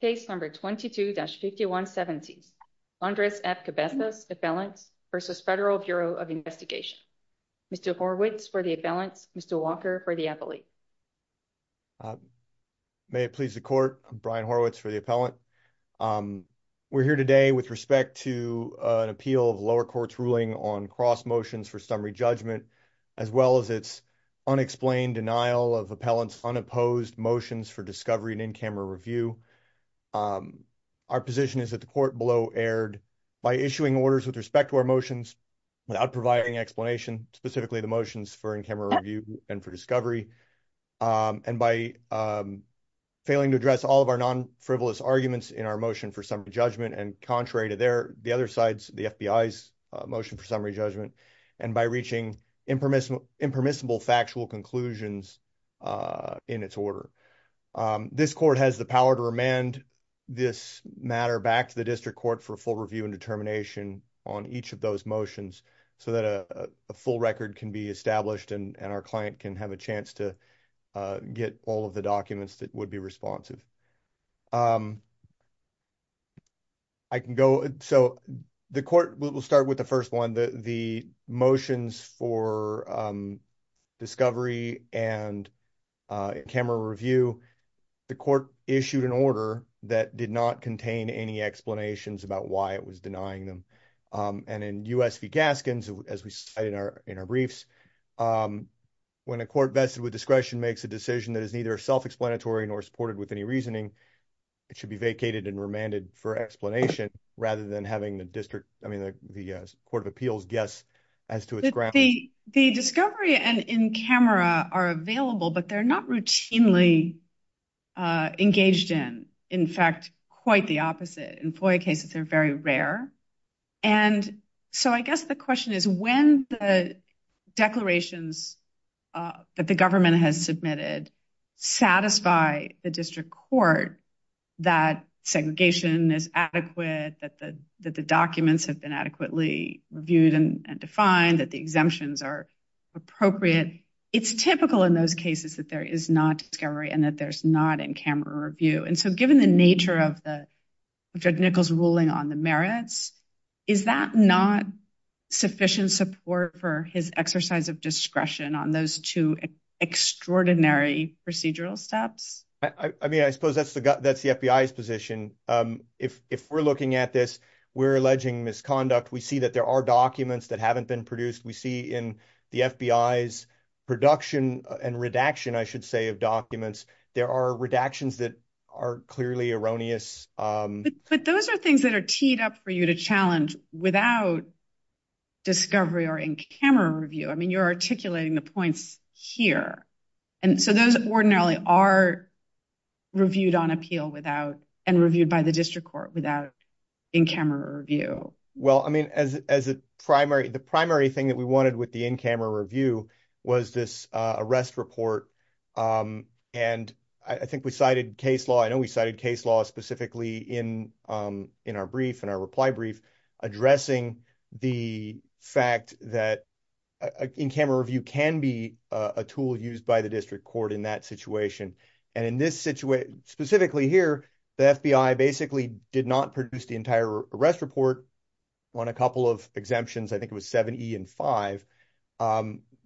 Case number 22-5170 Andres F. Cabezas, appellant, v. Federal Bureau of Investigation. Mr. Horwitz for the appellant, Mr. Walker for the appellate. May it please the court, I'm Brian Horwitz for the appellant. We're here today with respect to an appeal of lower court's ruling on cross motions for summary judgment, as well as its unexplained denial of appellant's unopposed motions for discovery and in-camera review. Our position is that the court below erred by issuing orders with respect to our motions without providing explanation, specifically the motions for in-camera review and for discovery. And by failing to address all of our non-frivolous arguments in our motion for summary judgment, and contrary to the other sides, the FBI's motion for summary judgment, and by reaching impermissible factual conclusions in its order. This court has the power to remand this matter back to the district court for full review and determination on each of those motions so that a full record can be established and our client can have a chance to get all of the documents that would be responsive. I can go, so the court will start with the first one, the motions for discovery and camera review, the court issued an order that did not contain any explanations about why it was denying them. And in U.S. v. Gaskins, as we cite in our briefs, when a court vested with discretion makes a decision that is neither self-explanatory nor supported with any reasoning, it should be vacated and remanded for explanation rather than having the court of appeals guess as to its grounds. The discovery and in-camera are available, but they're not routinely engaged in. In fact, quite the opposite. In FOIA cases, they're very rare. And so I guess the question is, when the declarations that the government has submitted satisfy the district court that segregation is adequate, that the documents have been adequately reviewed and defined, that the exemptions are appropriate, it's typical in those cases that there is not discovery and that there's not in-camera review. And so given the nature of Judge Nichols' ruling on the merits, is that not sufficient support for his exercise of discretion on those two extraordinary procedural steps? I mean, I suppose that's the FBI's position. If we're looking at this, we're alleging misconduct. We see that there are documents that haven't been produced. We see in the FBI's production and redaction, I should say, of documents, there are redactions that are clearly erroneous. But those are things that are teed up for you to challenge without discovery or in-camera review. I mean, you're articulating the points here. And so those ordinarily are reviewed on appeal without and reviewed by the district court without in-camera review. Well, I mean, the primary thing that we wanted with the in-camera review was this arrest report. And I think we cited case law. I know we cited case law specifically in our brief and our reply brief addressing the fact that in-camera review can be a tool used by the district court in that situation. And in this situation, specifically here, the FBI basically did not produce the entire arrest report on a couple of exemptions. I think it was 7E and 5.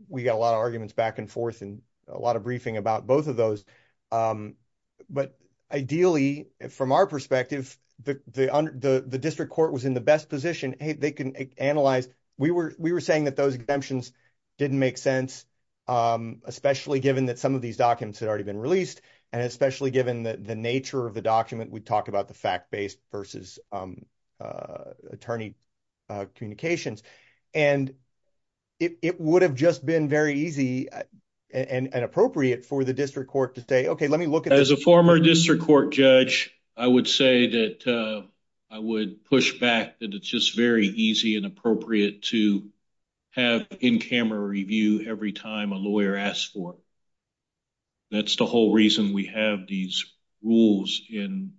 We got a lot of arguments back and forth and a lot of briefing about both of those. But ideally, from our perspective, the district court was in the best position. We were saying that those exemptions didn't make sense, especially given that some of these documents had already been released, and especially given the nature of the document. We talked about the fact-based versus attorney communications. And it would have just been very easy and appropriate for the district court to say, okay, let me look at this. As a former district court judge, I would say that I would push back that it's just very easy and appropriate to have in-camera review every time a lawyer asks for it. That's the whole reason we have these rules in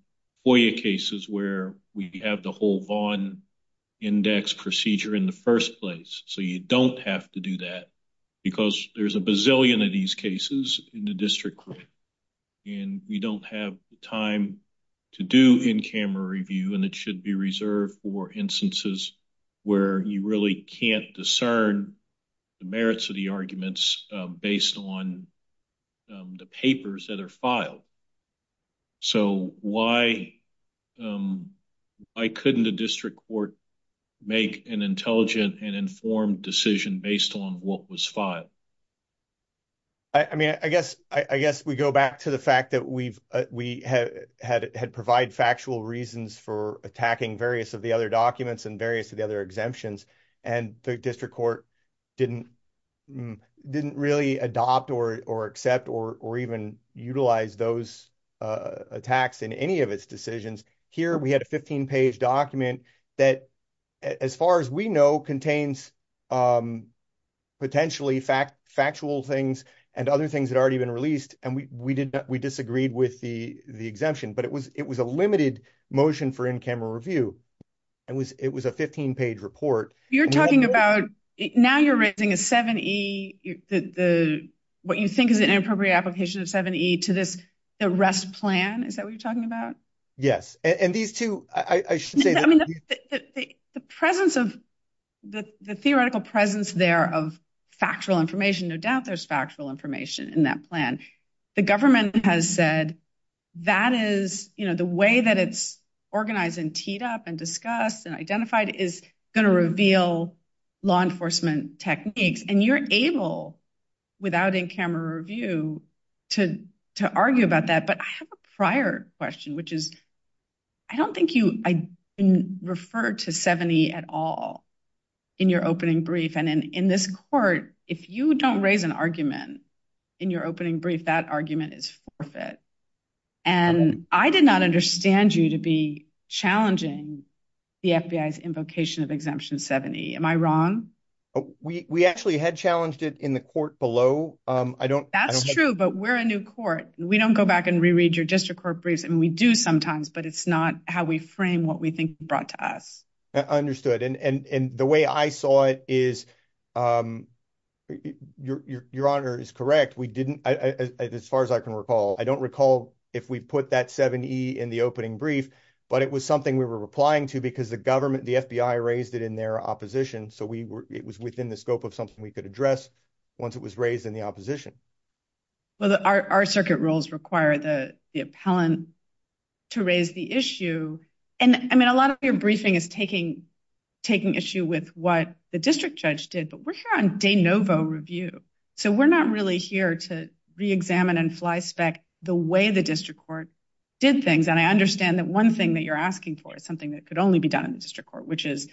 FOIA cases where we have the whole Vaughn index procedure in the first place. So you don't have to do that because there's a bazillion of these cases in the district court. And we don't have the time to do in-camera review, and it should be reserved for instances where you really can't discern the merits of the arguments based on the papers that are filed. So why couldn't a district court make an intelligent and informed decision based on what was filed? I mean, I guess we go back to the fact that we had provided factual reasons for attacking various of the other documents and various of the other exemptions, and the district court didn't really adopt or accept or even utilize those attacks in any of its decisions. Here we had a 15-page document that, as far as we know, contains potentially factual things and other things that had already been released, and we disagreed with the exemption. But it was a limited motion for in-camera review, and it was a 15-page report. You're talking about now you're raising a 7E, what you think is an inappropriate application of 7E to this arrest plan? Is that what you're talking about? Yes. And these two, I should say that— The presence of—the theoretical presence there of factual information, no doubt there's factual information in that plan. The government has said that is—the way that it's organized and teed up and discussed and identified is going to reveal law enforcement techniques. And you're able, without in-camera review, to argue about that. But I have a prior question, which is I don't think you referred to 7E at all in your opening brief. And in this court, if you don't raise an argument in your opening brief, that argument is forfeit. And I did not understand you to be challenging the FBI's invocation of Exemption 7E. Am I wrong? We actually had challenged it in the court below. That's true, but we're a new court. We don't go back and reread your district court briefs. And we do sometimes, but it's not how we frame what we think brought to us. Understood. And the way I saw it is your honor is correct. We didn't—as far as I can recall. I don't recall if we put that 7E in the opening brief, but it was something we were replying to because the government, the FBI raised it in their opposition. So it was within the scope of something we could address once it was raised in the opposition. Well, our circuit rules require the appellant to raise the issue. And, I mean, a lot of your briefing is taking issue with what the district judge did, but we're here on de novo review. So we're not really here to reexamine and flyspec the way the district court did things. And I understand that one thing that you're asking for is something that could only be done in the district court, which is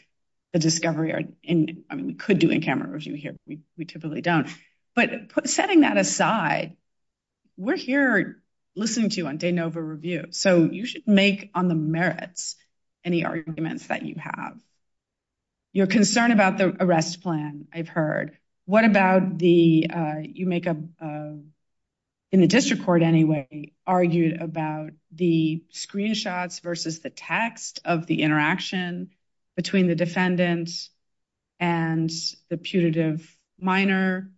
the discovery—I mean, we could do in camera review here, but we typically don't. But setting that aside, we're here listening to you on de novo review. So you should make on the merits any arguments that you have. Your concern about the arrest plan, I've heard. What about the—you make a—in the district court, anyway, argued about the screenshots versus the text of the interaction between the defendant and the putative minor.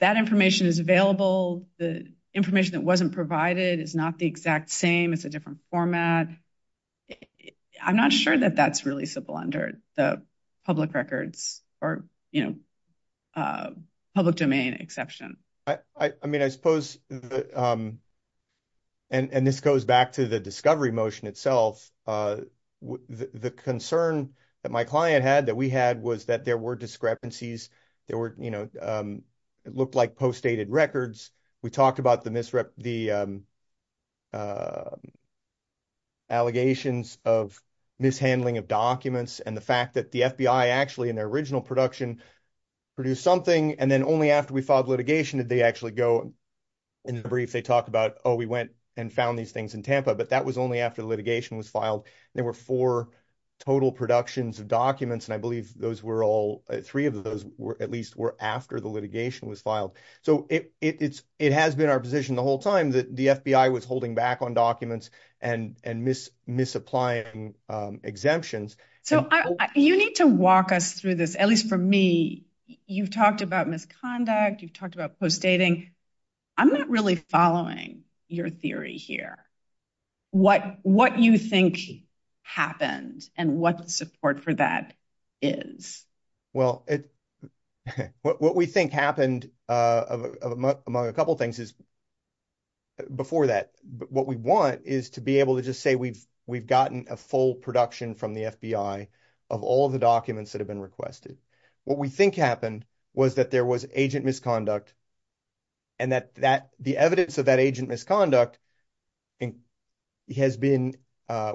That information is available. The information that wasn't provided is not the exact same. It's a different format. I'm not sure that that's really simple under the public records or, you know, public domain exception. I mean, I suppose, and this goes back to the discovery motion itself, the concern that my client had that we had was that there were discrepancies. There were, you know, it looked like postdated records. We talked about the misrep—the allegations of mishandling of documents and the fact that the FBI actually, in their original production, produced something, and then only after we filed litigation did they actually go. In the brief, they talk about, oh, we went and found these things in Tampa, but that was only after the litigation was filed. There were four total productions of documents, and I believe those were all—three of those at least were after the litigation was filed. So it has been our position the whole time that the FBI was holding back on documents and misapplying exemptions. So you need to walk us through this, at least for me. You've talked about misconduct. You've talked about postdating. I'm not really following your theory here. What you think happened and what the support for that is. Well, what we think happened, among a couple things, is—before that, what we want is to be able to just say we've gotten a full production from the FBI of all the documents that have been requested. What we think happened was that there was agent misconduct and that the evidence of that agent misconduct has been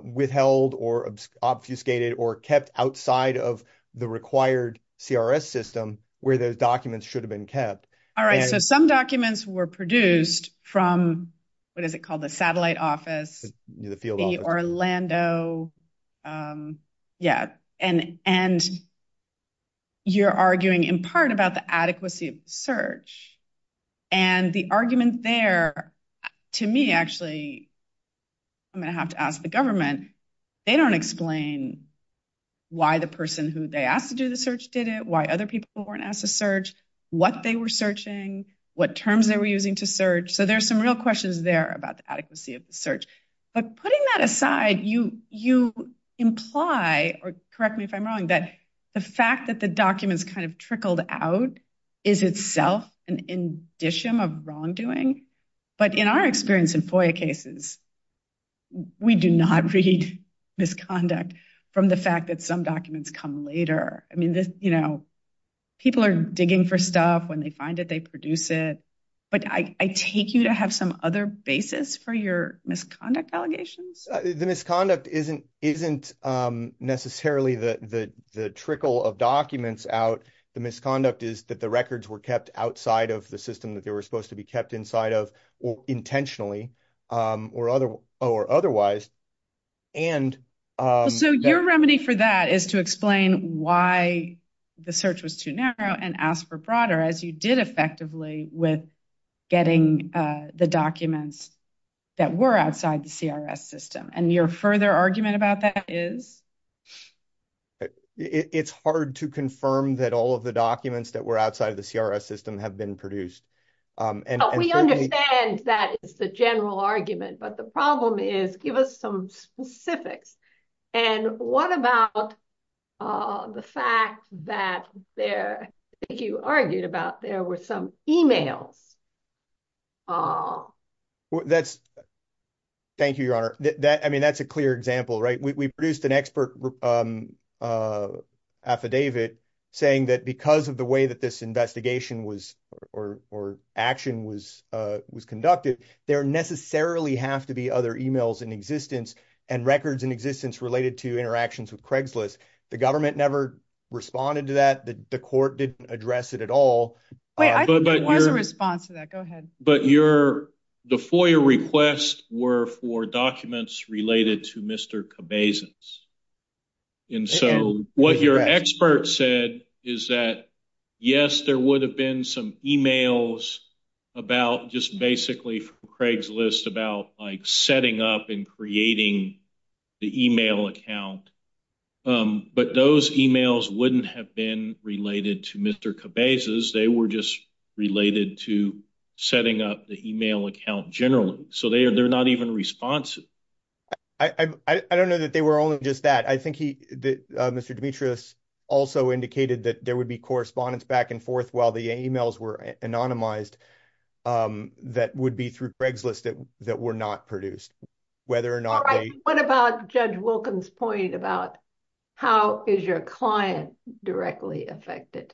withheld or obfuscated or kept outside of the required CRS system where those documents should have been kept. All right. So some documents were produced from—what is it called?—the satellite office. The field office. The Orlando—yeah. And you're arguing in part about the adequacy of the search. And the argument there, to me, actually—I'm going to have to ask the government—they don't explain why the person who they asked to do the search did it, why other people weren't asked to search, what they were searching, what terms they were using to search. So there's some real questions there about the adequacy of the search. But putting that aside, you imply—or correct me if I'm wrong—that the fact that the documents kind of trickled out is itself an indicium of wrongdoing. But in our experience in FOIA cases, we do not read misconduct from the fact that some documents come later. People are digging for stuff. When they find it, they produce it. But I take you to have some other basis for your misconduct allegations? The misconduct isn't necessarily the trickle of documents out. The misconduct is that the records were kept outside of the system that they were supposed to be kept inside of intentionally or otherwise. So your remedy for that is to explain why the search was too narrow and ask for broader, as you did effectively with getting the documents that were outside the CRS system. And your further argument about that is? It's hard to confirm that all of the documents that were outside of the CRS system have been produced. We understand that is the general argument. But the problem is, give us some specifics. And what about the fact that there—you argued about there were some e-mails? Thank you, Your Honor. I mean, that's a clear example, right? We produced an expert affidavit saying that because of the way that this investigation was—or action was conducted, there necessarily have to be other e-mails in existence and records in existence related to interactions with Craigslist. The government never responded to that. The court didn't address it at all. Wait, I think there was a response to that. Go ahead. But your—the FOIA requests were for documents related to Mr. Cabezas. And so what your expert said is that, yes, there would have been some e-mails about—just basically from Craigslist about, like, setting up and creating the e-mail account. But those e-mails wouldn't have been related to Mr. Cabezas. They were just related to setting up the e-mail account generally. So they're not even responsive. I don't know that they were only just that. I think he—Mr. Demetrius also indicated that there would be correspondence back and forth while the e-mails were anonymized that would be through Craigslist that were not produced, whether or not they— What about Judge Wilkins' point about how is your client directly affected?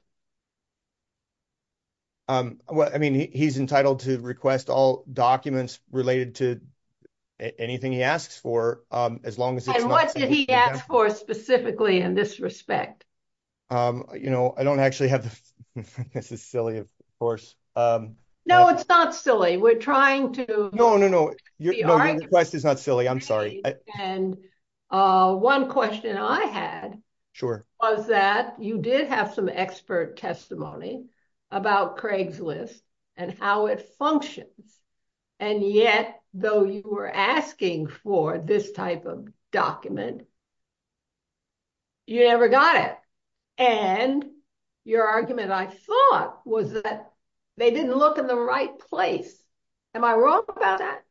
I mean, he's entitled to request all documents related to anything he asks for as long as it's not— And what did he ask for specifically in this respect? You know, I don't actually have—this is silly, of course. No, it's not silly. We're trying to— No, no, no. Your request is not silly. I'm sorry. And one question I had— Sure. —was that you did have some expert testimony about Craigslist and how it functions. And yet, though you were asking for this type of document, you never got it. And your argument, I thought, was that they didn't look in the right place. Am I wrong about that?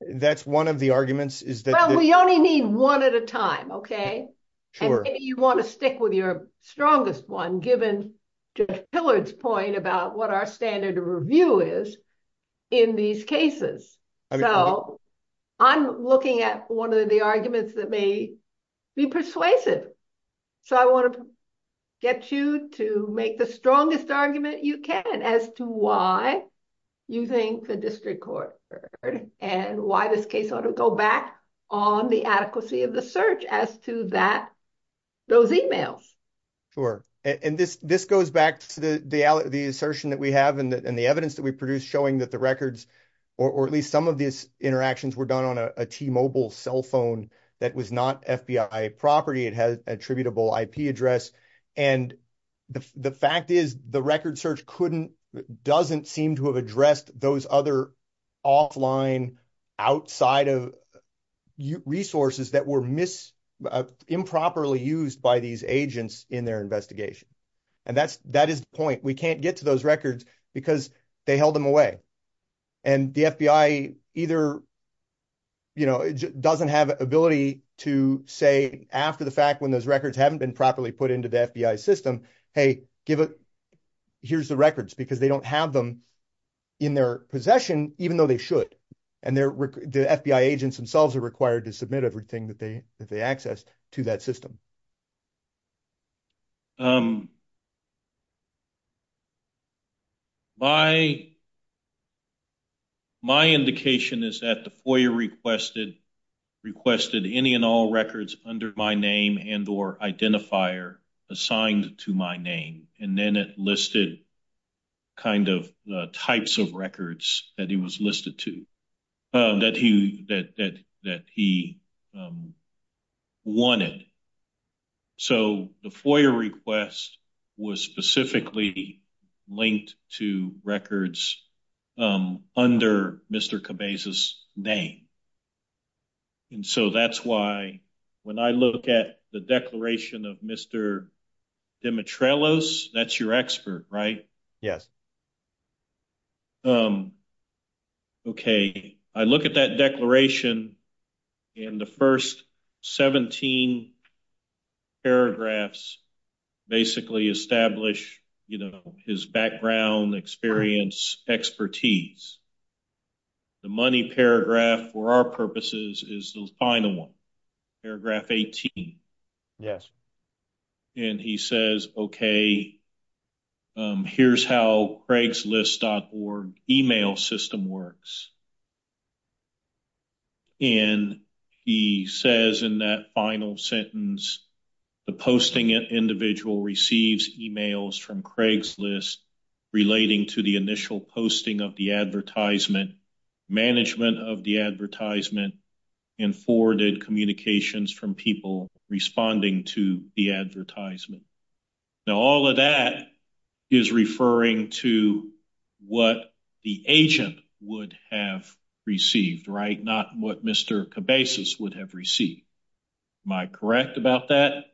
That's one of the arguments is that— Well, we only need one at a time, okay? Sure. And maybe you want to stick with your strongest one, given Judge Pillard's point about what our standard of review is in these cases. So I'm looking at one of the arguments that may be persuasive. So I want to get you to make the strongest argument you can as to why you think the district court heard and why this case ought to go back on the adequacy of the search as to that—those emails. Sure. And this goes back to the assertion that we have and the evidence that we produced showing that the records, or at least some of these interactions, were done on a T-Mobile cell phone that was not FBI property. It had an attributable IP address. And the fact is the record search doesn't seem to have addressed those other offline, outside of resources that were improperly used by these agents in their investigation. And that is the point. We can't get to those records because they held them away. And the FBI either doesn't have ability to say after the fact when those records haven't been properly put into the FBI system, hey, here's the records, because they don't have them in their possession, even though they should. And the FBI agents themselves are required to submit everything that they accessed to that system. My indication is that the FOIA requested any and all records under my name and or identifier assigned to my name. And then it listed the types of records that he was listed to, that he wanted. So the FOIA request was specifically linked to records under Mr. Cabezas' name. And so that's why when I look at the declaration of Mr. Dimitrelos, that's your expert, right? Yes. Okay. I look at that declaration and the first 17 paragraphs basically establish his background, experience, expertise. The money paragraph for our purposes is the final one, paragraph 18. Yes. And he says, okay, here's how craigslist.org email system works. And he says in that final sentence, the posting individual receives emails from Craigslist relating to the initial posting of the advertisement, management of the advertisement, and forwarded communications from people responding to the advertisement. Now, all of that is referring to what the agent would have received, right? Not what Mr. Cabezas would have received. Am I correct about that?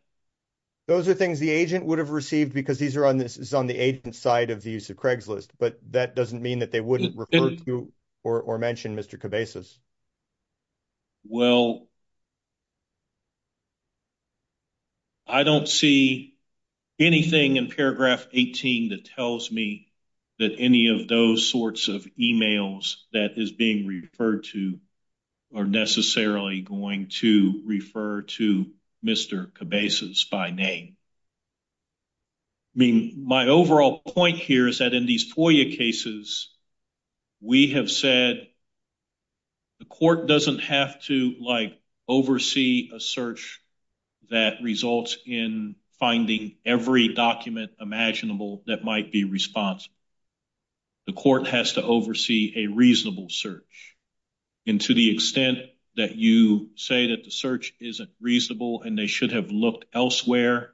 Those are things the agent would have received because these are on the agent side of the use of Craigslist. But that doesn't mean that they wouldn't refer to or mention Mr. Cabezas. Well, I don't see anything in paragraph 18 that tells me that any of those sorts of emails that is being referred to are necessarily going to refer to Mr. Cabezas by name. I mean, my overall point here is that in these FOIA cases, we have said the court doesn't have to oversee a search that results in finding every document imaginable that might be responsible. The court has to oversee a reasonable search. And to the extent that you say that the search isn't reasonable and they should have looked elsewhere,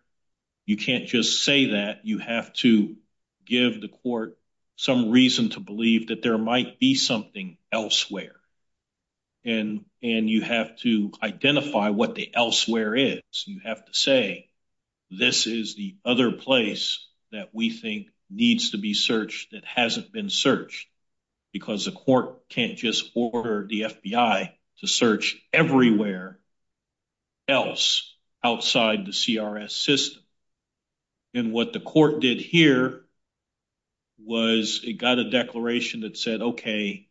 you can't just say that. You have to give the court some reason to believe that there might be something elsewhere. And you have to identify what the elsewhere is. You have to say this is the other place that we think needs to be searched that hasn't been searched because the court can't just order the FBI to search everywhere else outside the CRS system. And what the court did here was it got a declaration that said, okay,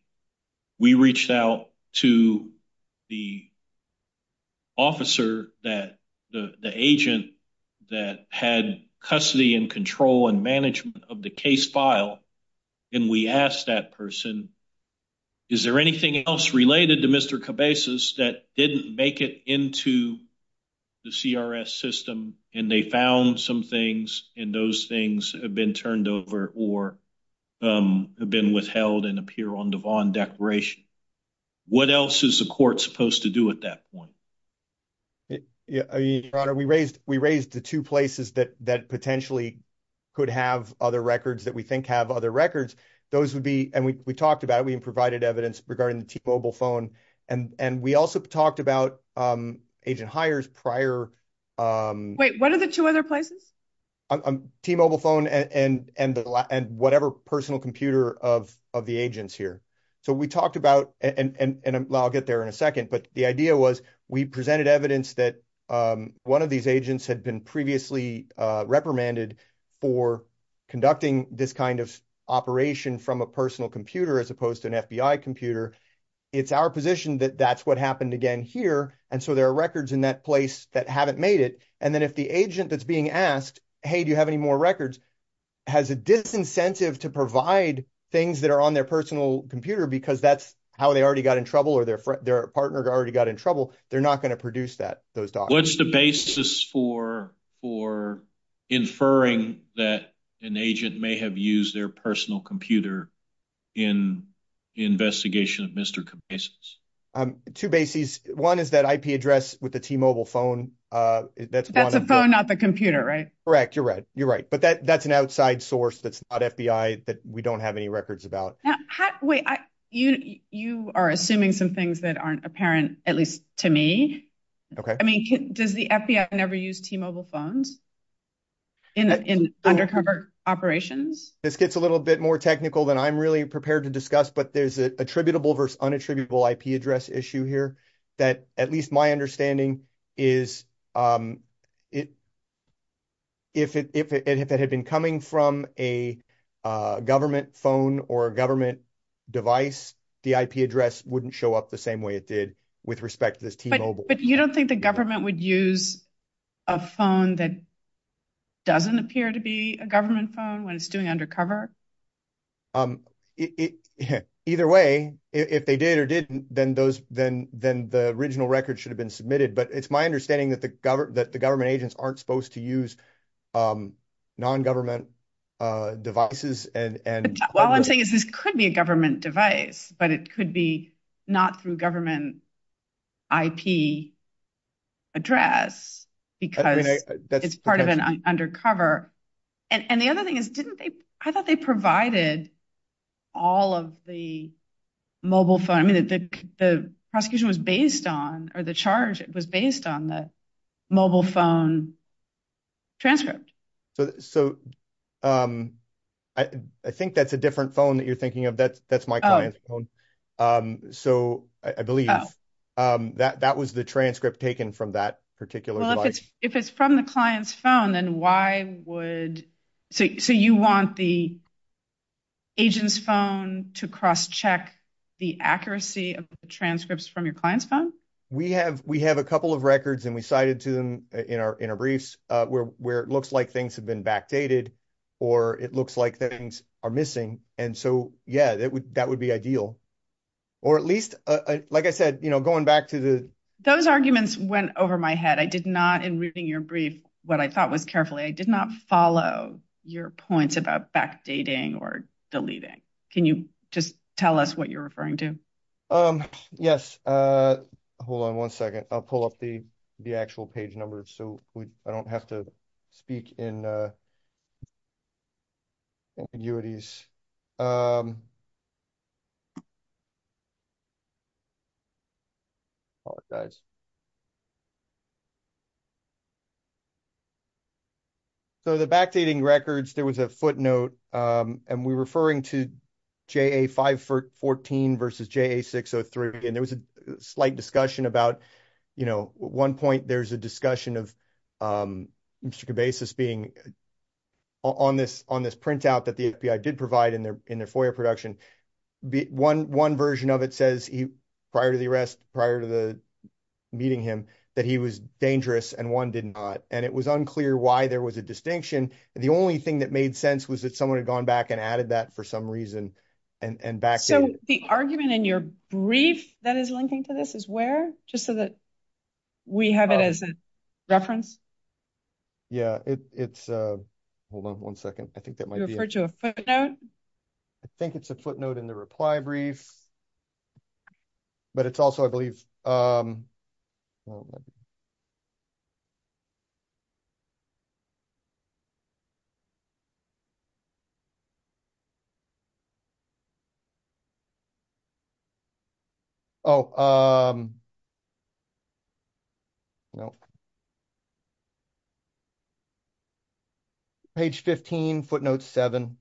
we reached out to the officer, the agent that had custody and control and management of the case file. And we asked that person, is there anything else related to Mr. Cabezas that didn't make it into the CRS system and they found some things and those things have been turned over or have been withheld and appear on the Vaughn declaration? What else is the court supposed to do at that point? We raised the two places that potentially could have other records that we think have other records. Those would be, and we talked about it, we provided evidence regarding the T-Mobile phone. And we also talked about agent hires prior. Wait, what are the two other places? T-Mobile phone and whatever personal computer of the agents here. So we talked about, and I'll get there in a second, but the idea was we presented evidence that one of these agents had been previously reprimanded for conducting this kind of operation from a personal computer as opposed to an FBI computer. It's our position that that's what happened again here. And so there are records in that place that haven't made it. And then if the agent that's being asked, hey, do you have any more records, has a disincentive to provide things that are on their personal computer because that's how they already got in trouble or their partner already got in trouble, they're not going to produce those documents. What's the basis for inferring that an agent may have used their personal computer in the investigation of Mr. Cabezas? Two bases. One is that IP address with the T-Mobile phone. That's a phone, not the computer, right? Correct. You're right. You're right. But that's an outside source that's not FBI that we don't have any records about. Wait, you are assuming some things that aren't apparent, at least to me. Okay. I mean, does the FBI never use T-Mobile phones in undercover operations? This gets a little bit more technical than I'm really prepared to discuss, but there's an attributable versus unattributable IP address issue here that at least my understanding is if it had been coming from a government phone or a government device, the IP address wouldn't show up the same way it did with respect to this T-Mobile. But you don't think the government would use a phone that doesn't appear to be a government phone when it's doing undercover? Either way, if they did or didn't, then the original record should have been submitted. But it's my understanding that the government agents aren't supposed to use nongovernment devices. Well, I'm saying this could be a government device, but it could be not through government IP address because it's part of an undercover. And the other thing is, I thought they provided all of the mobile phone. I mean, the prosecution was based on or the charge was based on the mobile phone transcript. So I think that's a different phone that you're thinking of. That's my client's phone. So I believe that was the transcript taken from that particular device. Well, if it's from the client's phone, then why would – so you want the agent's phone to cross-check the accuracy of the transcripts from your client's phone? We have a couple of records and we cited to them in our briefs where it looks like things have been backdated or it looks like things are missing. And so, yeah, that would be ideal. Or at least, like I said, going back to the – Those arguments went over my head. I did not, in reading your brief, what I thought was carefully, I did not follow your points about backdating or deleting. Can you just tell us what you're referring to? Yes. Hold on one second. I'll pull up the actual page numbers so I don't have to speak in ambiguities. Apologize. So the backdating records, there was a footnote, and we're referring to JA-514 versus JA-603. And there was a slight discussion about, you know, at one point there was a discussion of Mr. Cabasis being on this printout that the FBI did provide in their FOIA production. One version of it says prior to the arrest, prior to meeting him, that he was dangerous and one did not. And it was unclear why there was a distinction. The only thing that made sense was that someone had gone back and added that for some reason and backdated it. So the argument in your brief that is linking to this is where? Just so that we have it as a reference? Yeah, it's – hold on one second. I think that might be it. You referred to a footnote? I think it's a footnote in the reply brief. But it's also, I believe – oh, no. Page 15, footnote 7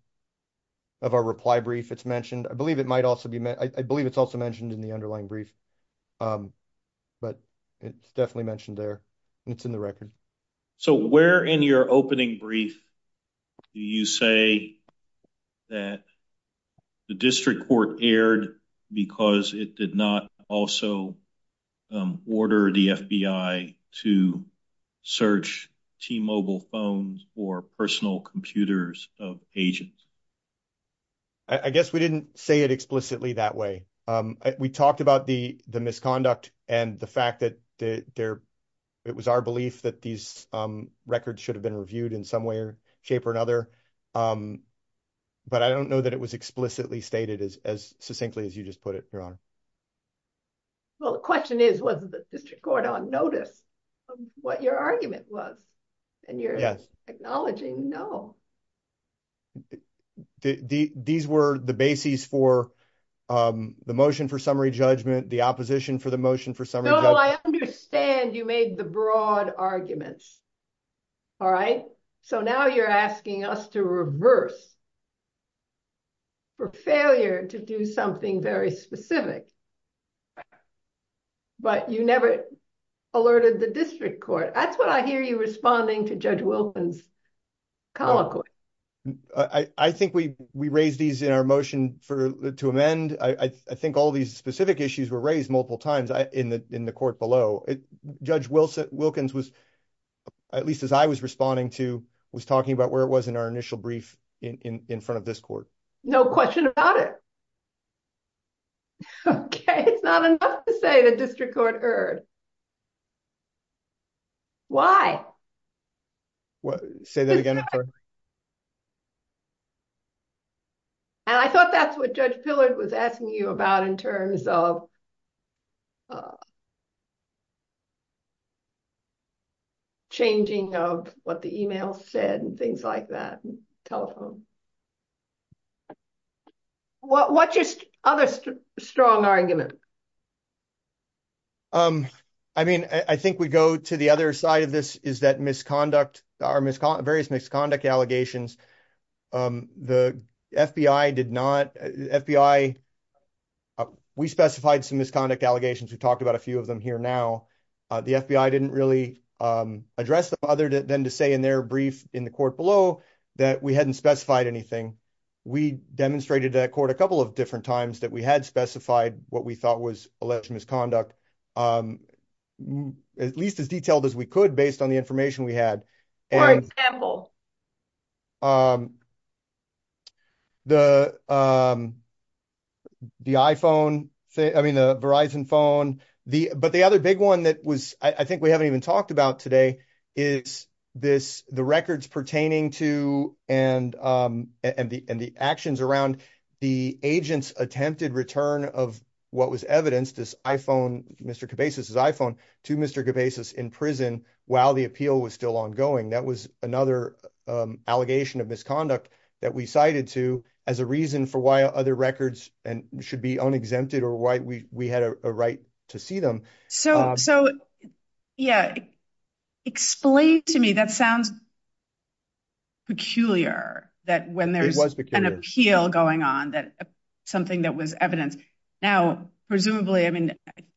of our reply brief. It's mentioned. I believe it might also be – I believe it's also mentioned in the underlying brief. But it's definitely mentioned there, and it's in the record. So where in your opening brief do you say that the district court erred because it did not also order the FBI to search T-Mobile phones or personal computers of agents? I guess we didn't say it explicitly that way. We talked about the misconduct and the fact that it was our belief that these records should have been reviewed in some way or shape or another. But I don't know that it was explicitly stated as succinctly as you just put it, Your Honor. Well, the question is, was the district court on notice of what your argument was? And you're acknowledging no. These were the bases for the motion for summary judgment, the opposition for the motion for summary judgment. No, I understand you made the broad arguments. All right. So now you're asking us to reverse for failure to do something very specific. But you never alerted the district court. That's what I hear you responding to Judge Wilkins' colloquy. I think we raised these in our motion to amend. I think all these specific issues were raised multiple times in the court below. Judge Wilkins, at least as I was responding to, was talking about where it was in our initial brief in front of this court. No question about it. OK, it's not enough to say the district court erred. Why? Say that again. And I thought that's what Judge Pillard was asking you about in terms of changing of what the email said and things like that, telephone. What's your other strong argument? I mean, I think we go to the other side of this, is that various misconduct allegations, the FBI did not. We specified some misconduct allegations. We talked about a few of them here now. The FBI didn't really address them other than to say in their brief in the court below that we hadn't specified anything. We demonstrated to court a couple of different times that we had specified what we thought was alleged misconduct, at least as detailed as we could based on the information we had. For example? The the iPhone. I mean, the Verizon phone. The but the other big one that was I think we haven't even talked about today is this. The records pertaining to and and the and the actions around the agents attempted return of what was evidenced. This iPhone, Mr. to Mr. in prison while the appeal was still ongoing. That was another allegation of misconduct that we cited to as a reason for why other records and should be unexempted or why we had a right to see them. So. So, yeah, explain to me. That sounds. Peculiar that when there was an appeal going on, that something that was evidence. Now, presumably, I mean,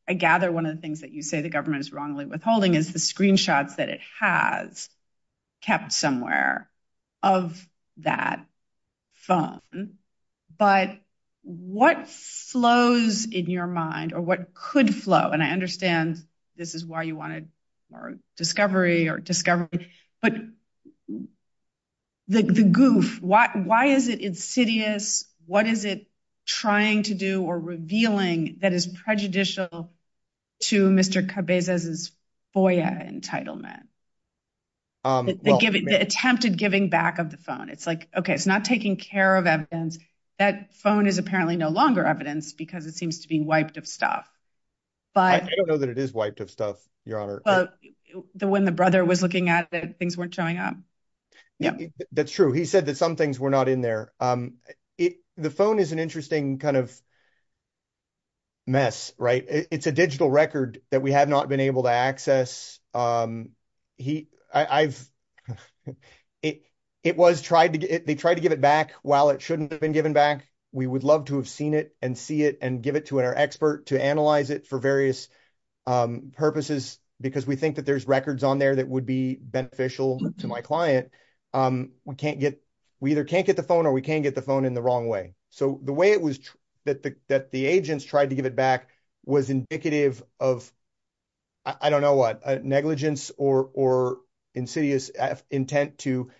I gather one of the things that you say the government is wrongly withholding is the screenshots that it has kept somewhere of that phone. But what flows in your mind or what could flow? And I understand this is why you wanted more discovery or discovery. But the goof. Why? Why is it insidious? What is it trying to do or revealing that is prejudicial to Mr. Cabezas is FOIA entitlement. Give it the attempted giving back of the phone. It's like, OK, it's not taking care of evidence. That phone is apparently no longer evidence because it seems to be wiped of stuff. But I don't know that it is wiped of stuff. Your honor. But when the brother was looking at it, things weren't showing up. That's true. He said that some things were not in there. The phone is an interesting kind of. Mess. Right. It's a digital record that we have not been able to access. He I've it. It was tried. They tried to give it back. While it shouldn't have been given back. We would love to have seen it and see it and give it to our expert to analyze it for various purposes, because we think that there's records on there that would be beneficial to my client. We can't get we either can't get the phone or we can't get the phone in the wrong way. So the way it was that the agents tried to give it back was indicative of. I don't know what negligence or insidious intent to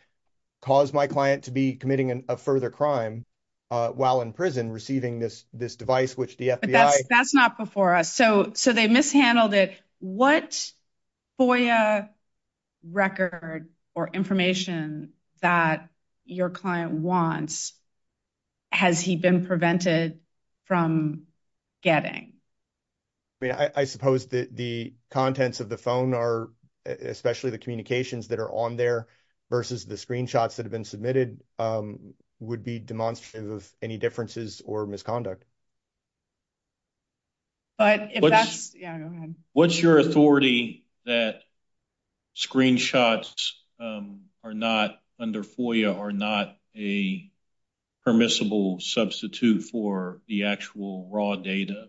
cause my client to be committing a further crime while in prison receiving this this device, which the FBI. That's not before us. So, so they mishandled it. What record or information that your client wants? Has he been prevented from getting. I mean, I, I suppose that the contents of the phone are especially the communications that are on there versus the screenshots that have been submitted would be demonstrative of any differences or misconduct. But if that's what's your authority that. Screenshots are not under for you are not a. Permissible substitute for the actual raw data.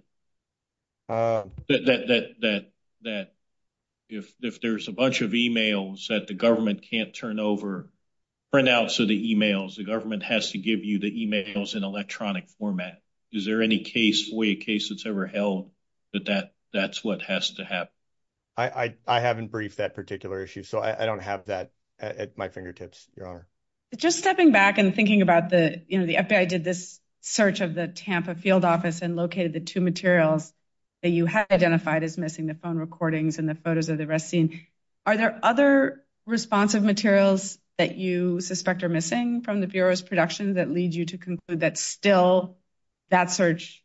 That, that, that, that. If there's a bunch of emails that the government can't turn over. Right now, so the emails the government has to give you the emails in electronic format. Is there any case way case that's ever held that that that's what has to have. I haven't briefed that particular issue, so I don't have that at my fingertips. Just stepping back and thinking about the, you know, the FBI did this search of the Tampa field office and located the 2 materials. That you had identified as missing the phone recordings and the photos of the rest scene. Are there other responsive materials that you suspect are missing from the Bureau's production that leads you to conclude that still that search.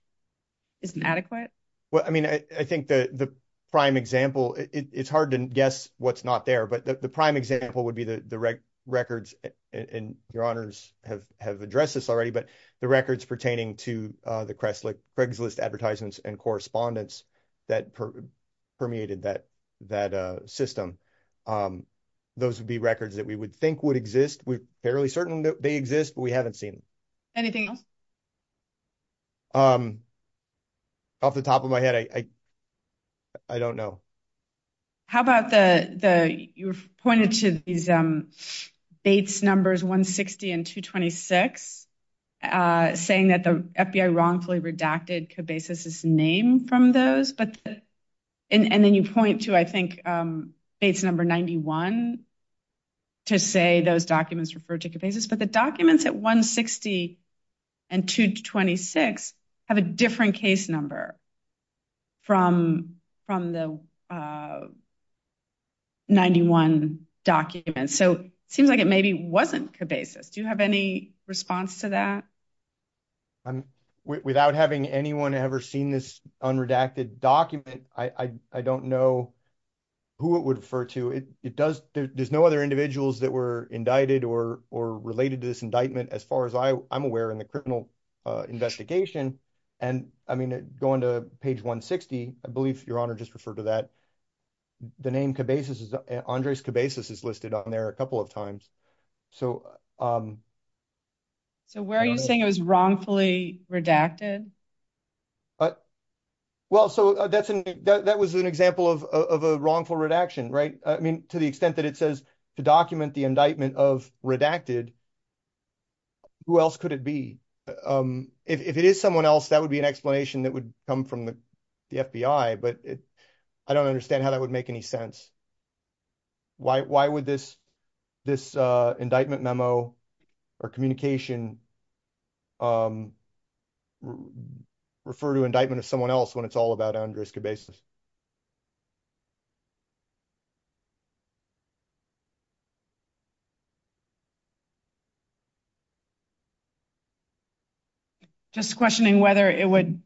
Isn't adequate. Well, I mean, I think the, the. Prime example, it's hard to guess what's not there, but the prime example would be the records and your honors have have addressed this already, but the records pertaining to the Craigslist advertisements and correspondence. That permeated that that system. Those would be records that we would think would exist. We're fairly certain that they exist, but we haven't seen. Anything else off the top of my head. I, I don't know. How about the, the, you've pointed to these dates numbers 160 and 226 saying that the FBI wrongfully redacted basis is name from those. And then you point to, I think, it's number 91. To say those documents refer to the basis, but the documents at 160. And 226 have a different case number. From from the. 91 documents, so it seems like it maybe wasn't basis. Do you have any response to that? Without having anyone ever seen this on redacted document, I, I, I don't know who it would refer to it. It does. There's no other individuals that were indicted or, or related to this indictment as far as I, I'm aware in the criminal investigation. And, I mean, going to page 160, I believe your honor just refer to that. The name basis is Andres basis is listed on there a couple of times. So, where are you saying it was wrongfully redacted. But, well, so that's an, that was an example of a wrongful redaction. Right. I mean, to the extent that it says to document the indictment of redacted. Who else could it be if it is someone else that would be an explanation that would come from the FBI, but I don't understand how that would make any sense. Why, why would this, this indictment memo or communication refer to indictment of someone else when it's all about Andres basis. Just questioning whether it would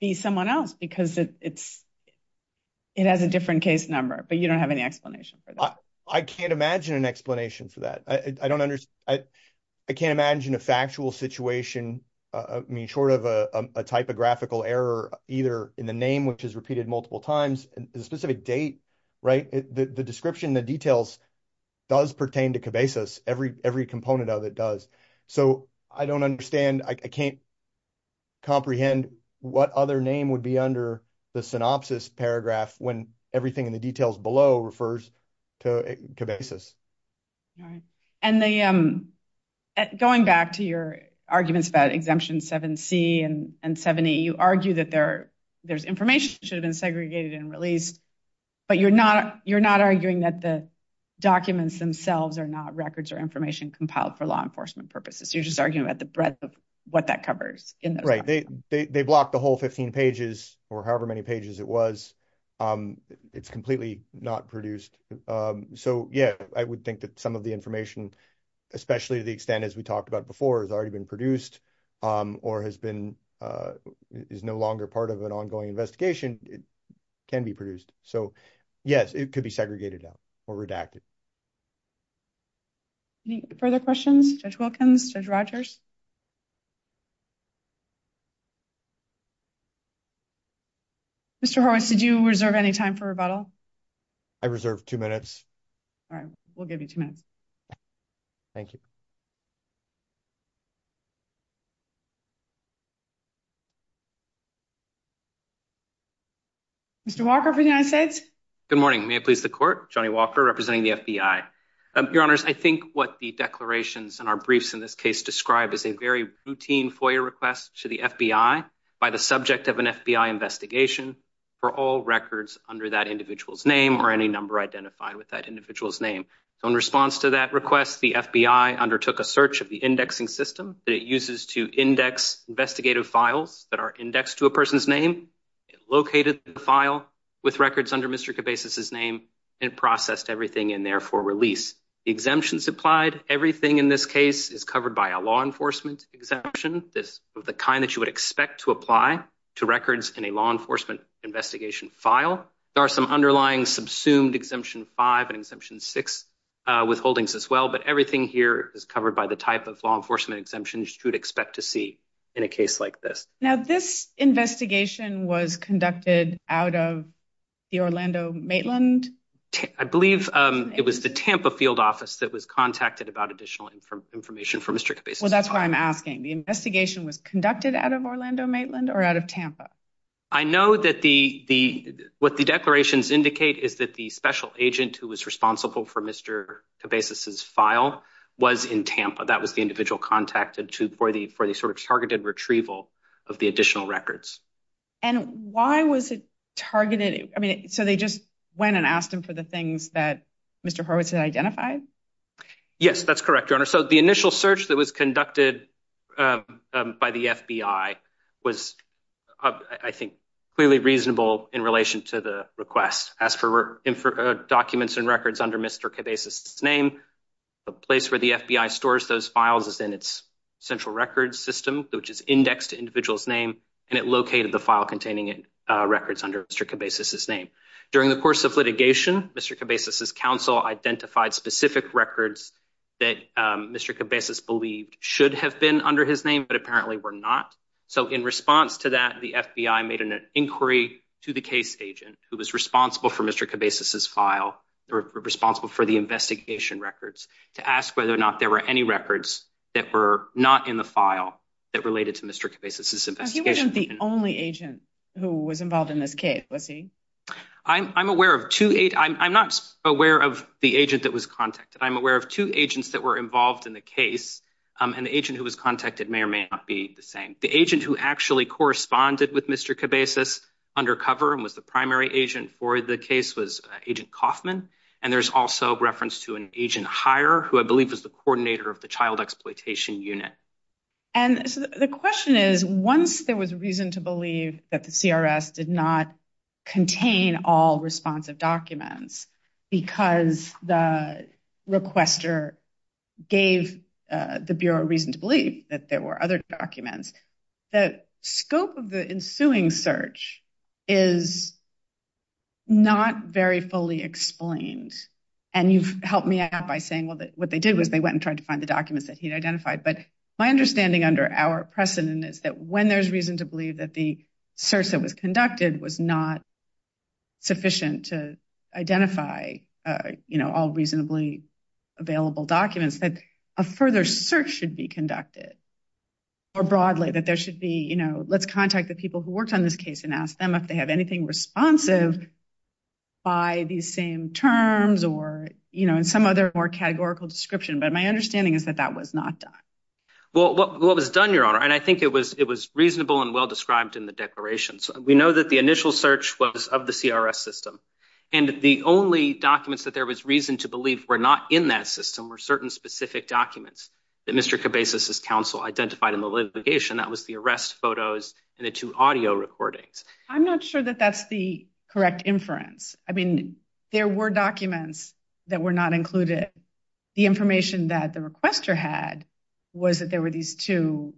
be someone else because it's, it has a different case number, but you don't have any explanation for that. I can't imagine an explanation for that. I don't understand. I can't imagine a factual situation. I mean, short of a typographical error, either in the name, which is repeated multiple times and specific date. Right. The description, the details does pertain to every, every component of it does. So, I don't understand. I can't comprehend what other name would be under the synopsis paragraph when everything in the details below refers to basis. And the going back to your arguments about exemption seven C and 70 you argue that there there's information should have been segregated and released. But you're not you're not arguing that the documents themselves are not records or information compiled for law enforcement purposes. You're just arguing about the breadth of what that covers in the right. They blocked the whole 15 pages or however many pages it was. It's completely not produced. So, yeah, I would think that some of the information, especially the extent as we talked about before has already been produced or has been is no longer part of an ongoing investigation can be produced. So, yes, it could be segregated or redacted. Any further questions? Judge Wilkins, Judge Rogers. Mr. Horowitz, did you reserve any time for rebuttal? I reserved two minutes. All right. We'll give you two minutes. Thank you. Mr. Walker for the United States. Good morning. May it please the court. Johnny Walker representing the FBI. Your honors. I think what the declarations and our briefs in this case describe is a very routine for your request to the FBI by the subject of an FBI investigation for all records under that individual's name or any number identified with that individual's name. In response to that request, the FBI undertook a search of the indexing system that it uses to index investigative files that are indexed to a person's name, located the file with records under Mr. Cabezas' name, and processed everything in there for release. Exemptions applied. Everything in this case is covered by a law enforcement exemption. This is the kind that you would expect to apply to records in a law enforcement investigation file. There are some underlying subsumed exemption five and exemption six withholdings as well. But everything here is covered by the type of law enforcement exemptions you would expect to see in a case like this. Now, this investigation was conducted out of the Orlando Maitland. I believe it was the Tampa field office that was contacted about additional information from Mr. Cabezas. Well, that's why I'm asking. The investigation was conducted out of Orlando Maitland or out of Tampa. I know that what the declarations indicate is that the special agent who was responsible for Mr. Cabezas' file was in Tampa. That was the individual contacted for the sort of targeted retrieval of the additional records. And why was it targeted? I mean, so they just went and asked him for the things that Mr. Horowitz had identified? Yes, that's correct, Your Honor. So the initial search that was conducted by the FBI was, I think, clearly reasonable in relation to the request. As for documents and records under Mr. Cabezas' name, the place where the FBI stores those files is in its central record system, which is indexed to individual's name. And it located the file containing records under Mr. Cabezas' name. During the course of litigation, Mr. Cabezas' counsel identified specific records that Mr. Cabezas believed should have been under his name, but apparently were not. So in response to that, the FBI made an inquiry to the case agent who was responsible for Mr. Cabezas' file, responsible for the investigation records, to ask whether or not there were any records that were not in the file that related to Mr. Cabezas' investigation. He wasn't the only agent who was involved in this case, was he? I'm aware of two—I'm not aware of the agent that was contacted. I'm aware of two agents that were involved in the case, and the agent who was contacted may or may not be the same. The agent who actually corresponded with Mr. Cabezas undercover and was the primary agent for the case was Agent Kaufman, and there's also reference to an agent higher, who I believe was the coordinator of the child exploitation unit. And the question is, once there was reason to believe that the CRS did not contain all responsive documents because the requester gave the Bureau reason to believe that there were other documents, the scope of the ensuing search is not very fully explained. And you've helped me out by saying, well, what they did was they went and tried to find the documents that he'd identified. But my understanding under our precedent is that when there's reason to believe that the search that was conducted was not sufficient to identify, you know, all reasonably available documents, that a further search should be conducted. Or broadly, that there should be, you know, let's contact the people who worked on this case and ask them if they have anything responsive by these same terms or, you know, in some other more categorical description. But my understanding is that that was not done. Well, what was done, Your Honor, and I think it was it was reasonable and well described in the declaration. So we know that the initial search was of the CRS system, and the only documents that there was reason to believe were not in that system were certain specific documents that Mr. Cabezas' counsel identified in the litigation. That was the arrest photos and the two audio recordings. I'm not sure that that's the correct inference. I mean, there were documents that were not included. The information that the requester had was that there were these two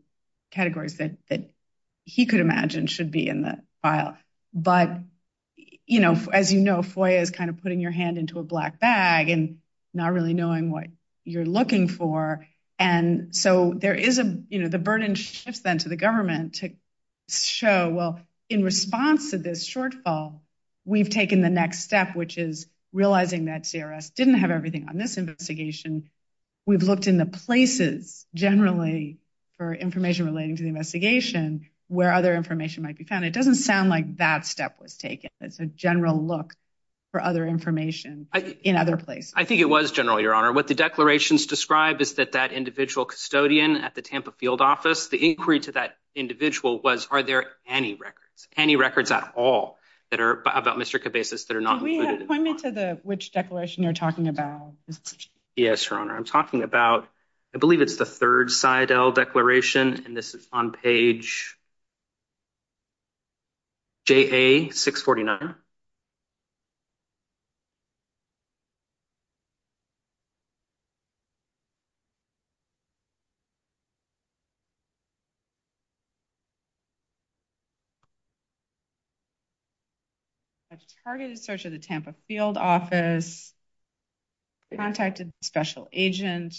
categories that he could imagine should be in the file. But, you know, as you know, FOIA is kind of putting your hand into a black bag and not really knowing what you're looking for. And so there is a, you know, the burden shifts then to the government to show, well, in response to this shortfall, we've taken the next step, which is realizing that CRS didn't have everything on this investigation. We've looked in the places generally for information relating to the investigation where other information might be found. It doesn't sound like that step was taken. It's a general look for other information in other places. I think it was general, Your Honor. What the declarations describe is that that individual custodian at the Tampa field office, the inquiry to that individual was are there any records, any records at all that are about Mr. Cabezas that are not included. Point me to the which declaration you're talking about. Yes, Your Honor. I'm talking about, I believe it's the third side declaration. And this is on page. J. A. 649. Targeted search of the Tampa field office. Contacted special agent.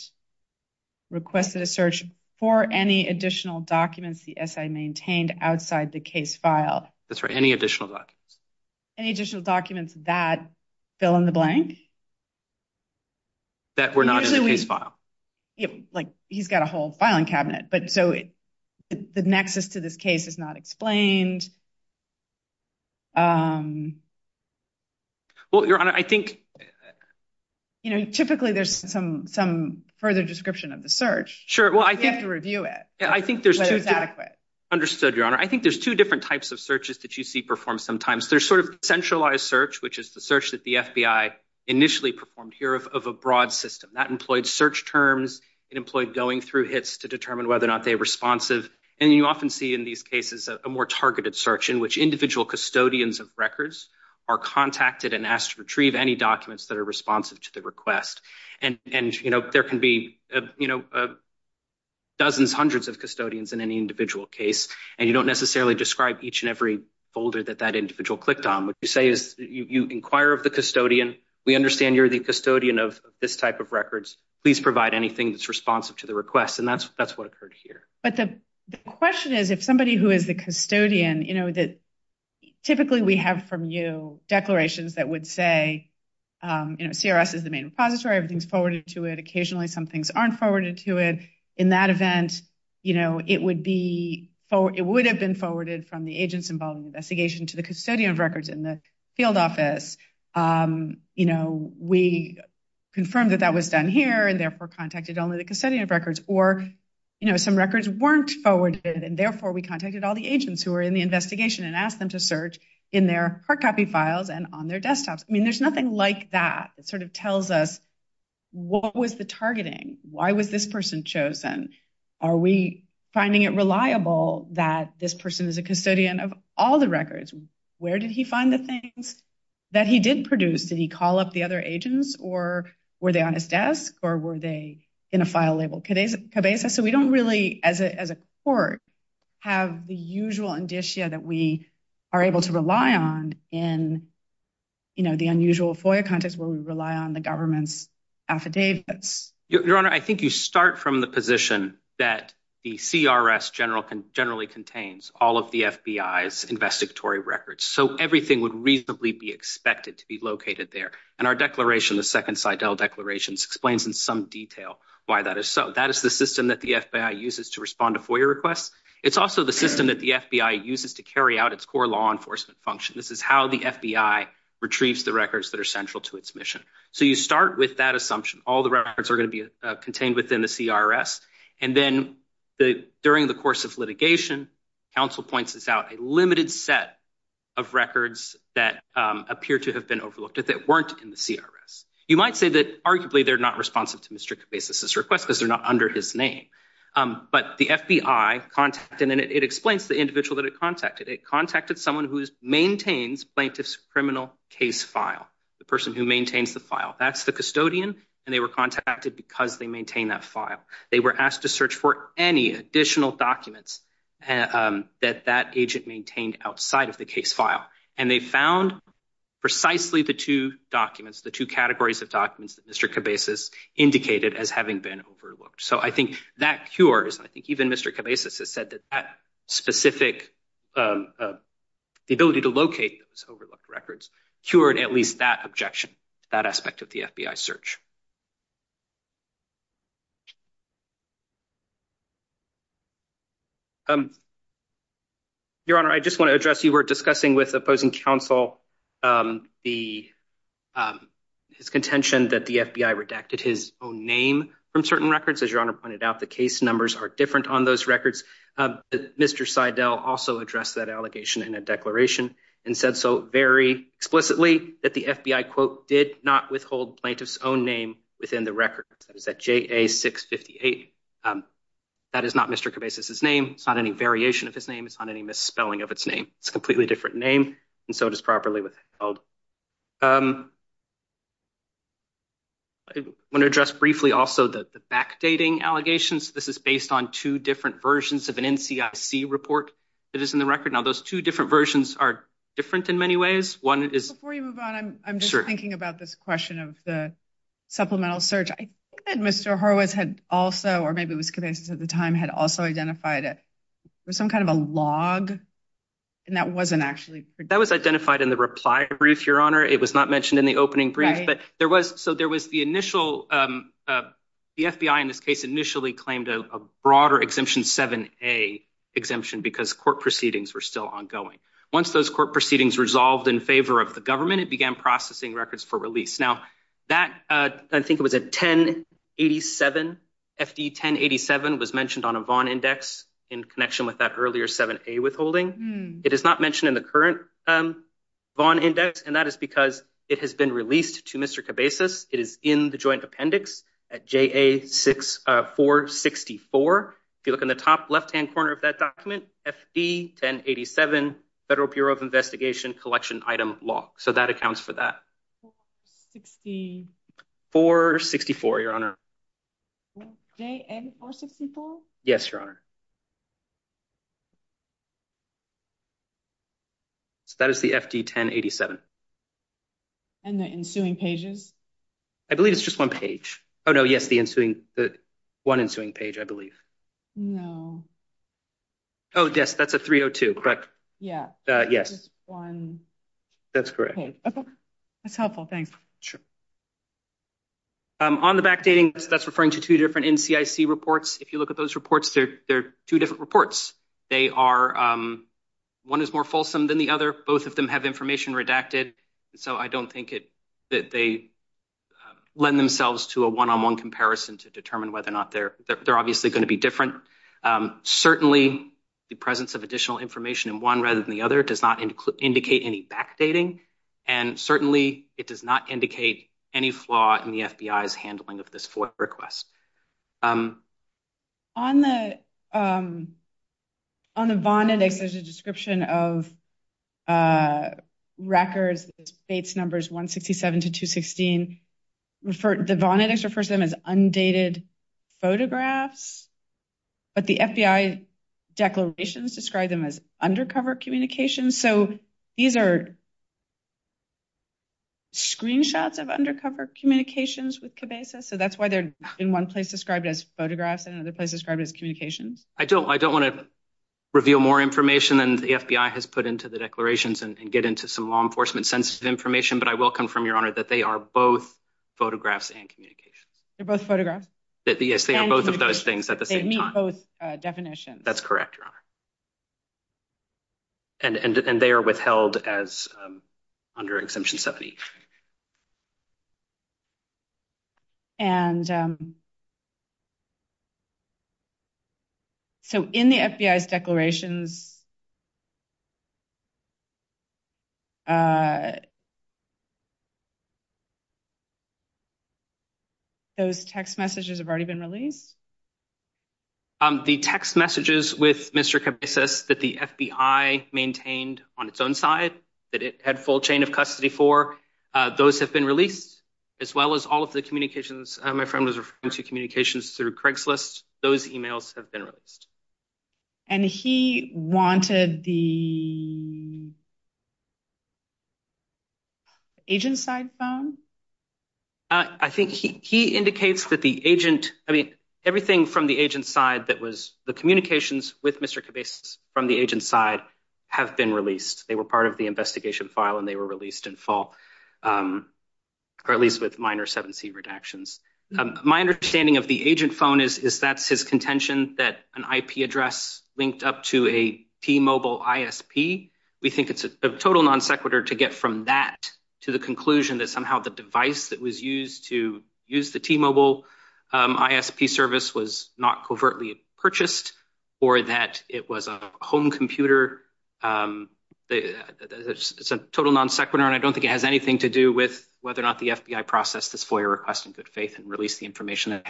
Requested a search for any additional documents. The S. I. Maintained outside the case file. That's right. Any additional documents, any additional documents that fill in the blank. That were not in the case file. Like, he's got a whole filing cabinet, but so the nexus to this case is not explained. Well, Your Honor, I think, you know, typically there's some some further description of the search. Sure. Well, I have to review it. Yeah, I think there's adequate understood. Your Honor. I think there's two different types of searches that you see perform. Sometimes there's sort of centralized search, which is the search that the FBI initially performed here of a broad system that employed search terms and employed going through hits to determine whether or not they responsive. And you often see in these cases, a more targeted search in which individual custodians of records are contacted and asked to retrieve any documents that are responsive to the request. And, you know, there can be, you know, dozens, hundreds of custodians in any individual case, and you don't necessarily describe each and every folder that that individual clicked on. What you say is you inquire of the custodian. We understand you're the custodian of this type of records. Please provide anything that's responsive to the request. And that's that's what occurred here. But the question is, if somebody who is the custodian, you know that typically we have from you declarations that would say, you know, CRS is the main repository, everything's forwarded to it. Occasionally, some things aren't forwarded to it in that event. You know, it would be for it would have been forwarded from the agents involved in the investigation to the custodian of records in the field office. You know, we confirmed that that was done here and therefore contacted only the custodian of records or, you know, some records weren't forwarded and therefore we contacted all the agents who are in the investigation and asked them to search in their hard copy files and on their desktops. I mean, there's nothing like that. It sort of tells us what was the targeting? Why was this person chosen? Are we finding it reliable that this person is a custodian of all the records? Where did he find the things that he did produce? Did he call up the other agents or were they on his desk or were they in a file label? So we don't really, as a court, have the usual indicia that we are able to rely on in the unusual FOIA context where we rely on the government's affidavits. Your Honor, I think you start from the position that the CRS generally contains all of the FBI's investigatory records. So everything would reasonably be expected to be located there. And our declaration, the Second Sidell Declaration, explains in some detail why that is so. That is the system that the FBI uses to respond to FOIA requests. It's also the system that the FBI uses to carry out its core law enforcement function. This is how the FBI retrieves the records that are central to its mission. So you start with that assumption. All the records are going to be contained within the CRS. And then during the course of litigation, counsel points out a limited set of records that appear to have been overlooked or that weren't in the CRS. You might say that arguably they're not responsive to Mr. Cabezas' request because they're not under his name. But the FBI contacted, and it explains the individual that it contacted. It contacted someone who maintains plaintiff's criminal case file, the person who maintains the file. That's the custodian. And they were contacted because they maintain that file. They were asked to search for any additional documents that that agent maintained outside of the case file. And they found precisely the two documents, the two categories of documents that Mr. Cabezas indicated as having been overlooked. So I think that cures. I think even Mr. Cabezas has said that that specific ability to locate those overlooked records cured at least that objection, that aspect of the FBI search. Your Honor, I just want to address, you were discussing with opposing counsel his contention that the FBI redacted his own name from certain records. As Your Honor pointed out, the case numbers are different on those records. Mr. Seidel also addressed that allegation in a declaration and said so very explicitly that the FBI, quote, did not withhold plaintiff's own name within the records. That is at JA-658. That is not Mr. Cabezas' name. It's not any variation of his name. It's not any misspelling of its name. It's a completely different name. And so it is properly withheld. I want to address briefly also the backdating allegations. This is based on two different versions of an NCIC report that is in the record. Now, those two different versions are different in many ways. One is. Before you move on, I'm just thinking about this question of the supplemental search. I think that Mr. Horowitz had also, or maybe it was Cabezas at the time, had also identified it was some kind of a log. And that wasn't actually. That was identified in the reply brief, Your Honor. It was not mentioned in the opening brief. But there was so there was the initial the FBI in this case initially claimed a broader exemption 7A exemption because court proceedings were still ongoing. Once those court proceedings resolved in favor of the government, it began processing records for release. Now, that I think it was a 1087. FD-1087 was mentioned on a Vaughn index in connection with that earlier 7A withholding. It is not mentioned in the current Vaughn index, and that is because it has been released to Mr. Cabezas. It is in the joint appendix at JA-464. If you look in the top left-hand corner of that document, FD-1087, Federal Bureau of Investigation collection item log. So that accounts for that. 464, Your Honor. JA-464? Yes, Your Honor. So that is the FD-1087. And the ensuing pages? I believe it's just one page. Oh, no, yes, the ensuing, the one ensuing page, I believe. No. Oh, yes, that's a 302, correct? Yeah. Yes. That's correct. Okay. That's helpful. Thanks. Sure. On the Vaughn index, there's a description of records, Bates numbers 167 to 216. The Vaughn index refers to them as undated photographs, but the FBI declarations describe them as undercover communications. So these are screenshots of undercover communications with Cabezas? So that's why they're in one place described as photographs and another place described as communications? I don't want to reveal more information than the FBI has put into the declarations and get into some law enforcement sensitive information, but I will confirm, Your Honor, that they are both photographs and communications. They're both photographs? Yes, they are both of those things at the same time. They meet both definitions. That's correct, Your Honor. And they are withheld as under Exemption 70. And so in the FBI's declarations, those text messages have already been released? The text messages with Mr. Cabezas that the FBI maintained on its own side that it had full chain of custody for, those have been released, as well as all of the communications. My friend was referring to communications through Craigslist. Those emails have been released. And he wanted the agent side phone? I think he indicates that the agent, I mean, everything from the agent side that was the communications with Mr. Cabezas from the agent side have been released. They were part of the investigation file and they were released in full, or at least with minor 7C redactions. My understanding of the agent phone is that's his contention that an IP address linked up to a T-Mobile ISP. We think it's a total non sequitur to get from that to the conclusion that somehow the device that was used to use the T-Mobile ISP service was not covertly purchased or that it was a home computer. It's a total non sequitur, and I don't think it has anything to do with whether or not the FBI processed this FOIA request in good faith and released the information.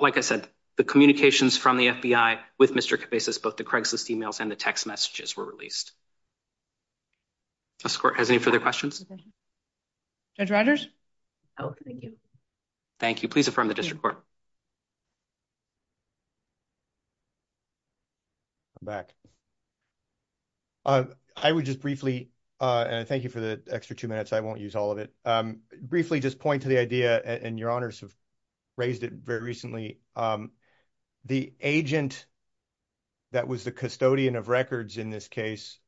Like I said, the communications from the FBI with Mr. Cabezas, both the Craigslist emails and the text messages were released. Does the court have any further questions? Judge Rogers? Thank you. Please affirm the district court. I'm back. I would just briefly, and I thank you for the extra two minutes. I won't use all of it. Briefly just point to the idea, and your honors have raised it very recently. The agent that was the custodian of records in this case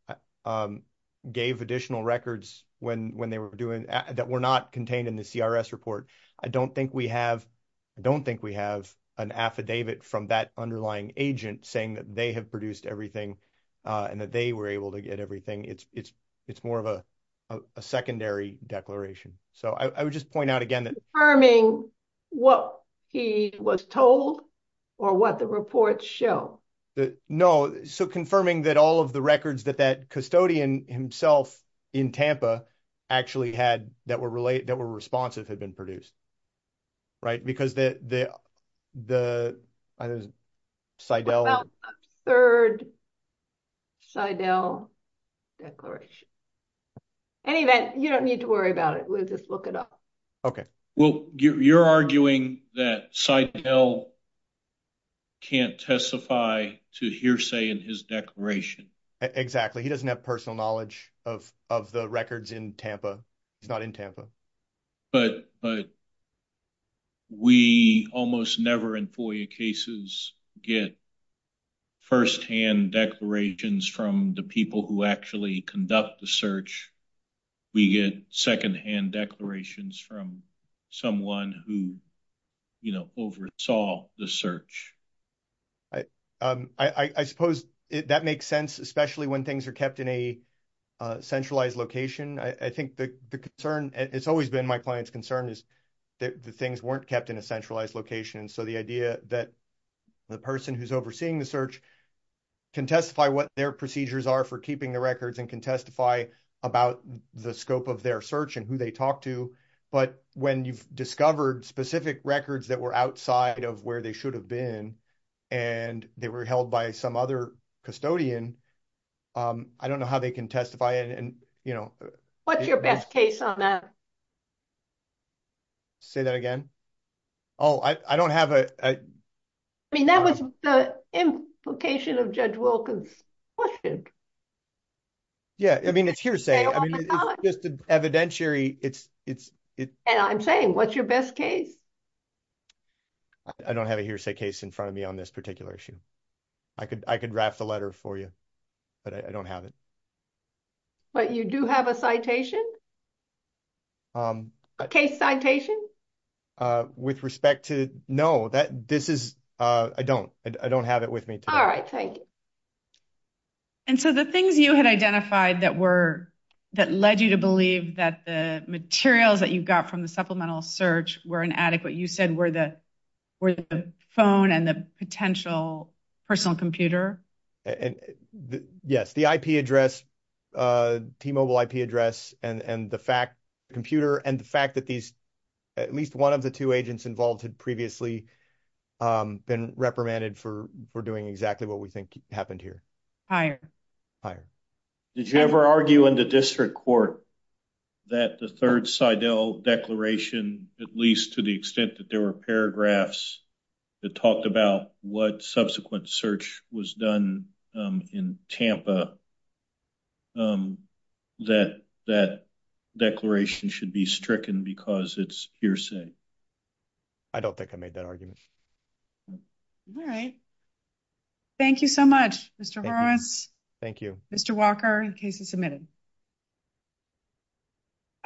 gave additional records that were not contained in the CRS report. I don't think we have an affidavit from that underlying agent saying that they have produced everything and that they were able to get everything. It's more of a secondary declaration. Confirming what he was told or what the reports show? No. Confirming that all of the records that that custodian himself in Tampa actually had that were responsive had been produced. Right, because the Seidel. Third Seidel declaration. Anyway, you don't need to worry about it. We'll just look it up. Well, you're arguing that Seidel can't testify to hearsay in his declaration. Exactly. He doesn't have personal knowledge of the records in Tampa. He's not in Tampa. But we almost never in FOIA cases get firsthand declarations from the people who actually conduct the search. We get secondhand declarations from someone who, you know, oversaw the search. I suppose that makes sense, especially when things are kept in a centralized location. I think the concern, it's always been my client's concern is that the things weren't kept in a centralized location. So, the idea that the person who's overseeing the search can testify what their procedures are for keeping the records and can testify about the scope of their search and who they talk to. But when you've discovered specific records that were outside of where they should have been, and they were held by some other custodian, I don't know how they can testify and, you know. What's your best case on that? Say that again? Oh, I don't have a... I mean, that was the implication of Judge Wilkins' question. Yeah, I mean, it's hearsay. It's just evidentiary. And I'm saying, what's your best case? I don't have a hearsay case in front of me on this particular issue. I could, I could wrap the letter for you, but I don't have it. But you do have a citation? A case citation? With respect to, no, that, this is, I don't, I don't have it with me. All right, thank you. And so, the things you had identified that were, that led you to believe that the materials that you got from the supplemental search were inadequate, you said, were the phone and the potential personal computer? Yes, the IP address, T-Mobile IP address, and the fact, computer, and the fact that these, at least one of the two agents involved had previously been reprimanded for doing exactly what we think happened here. Did you ever argue in the district court that the third Seidel declaration, at least to the extent that there were paragraphs that talked about what subsequent search was done in Tampa, that that declaration should be stricken because it's hearsay? I don't think I made that argument. All right. Thank you so much, Mr. Horowitz. Thank you. Mr. Walker, the case is submitted.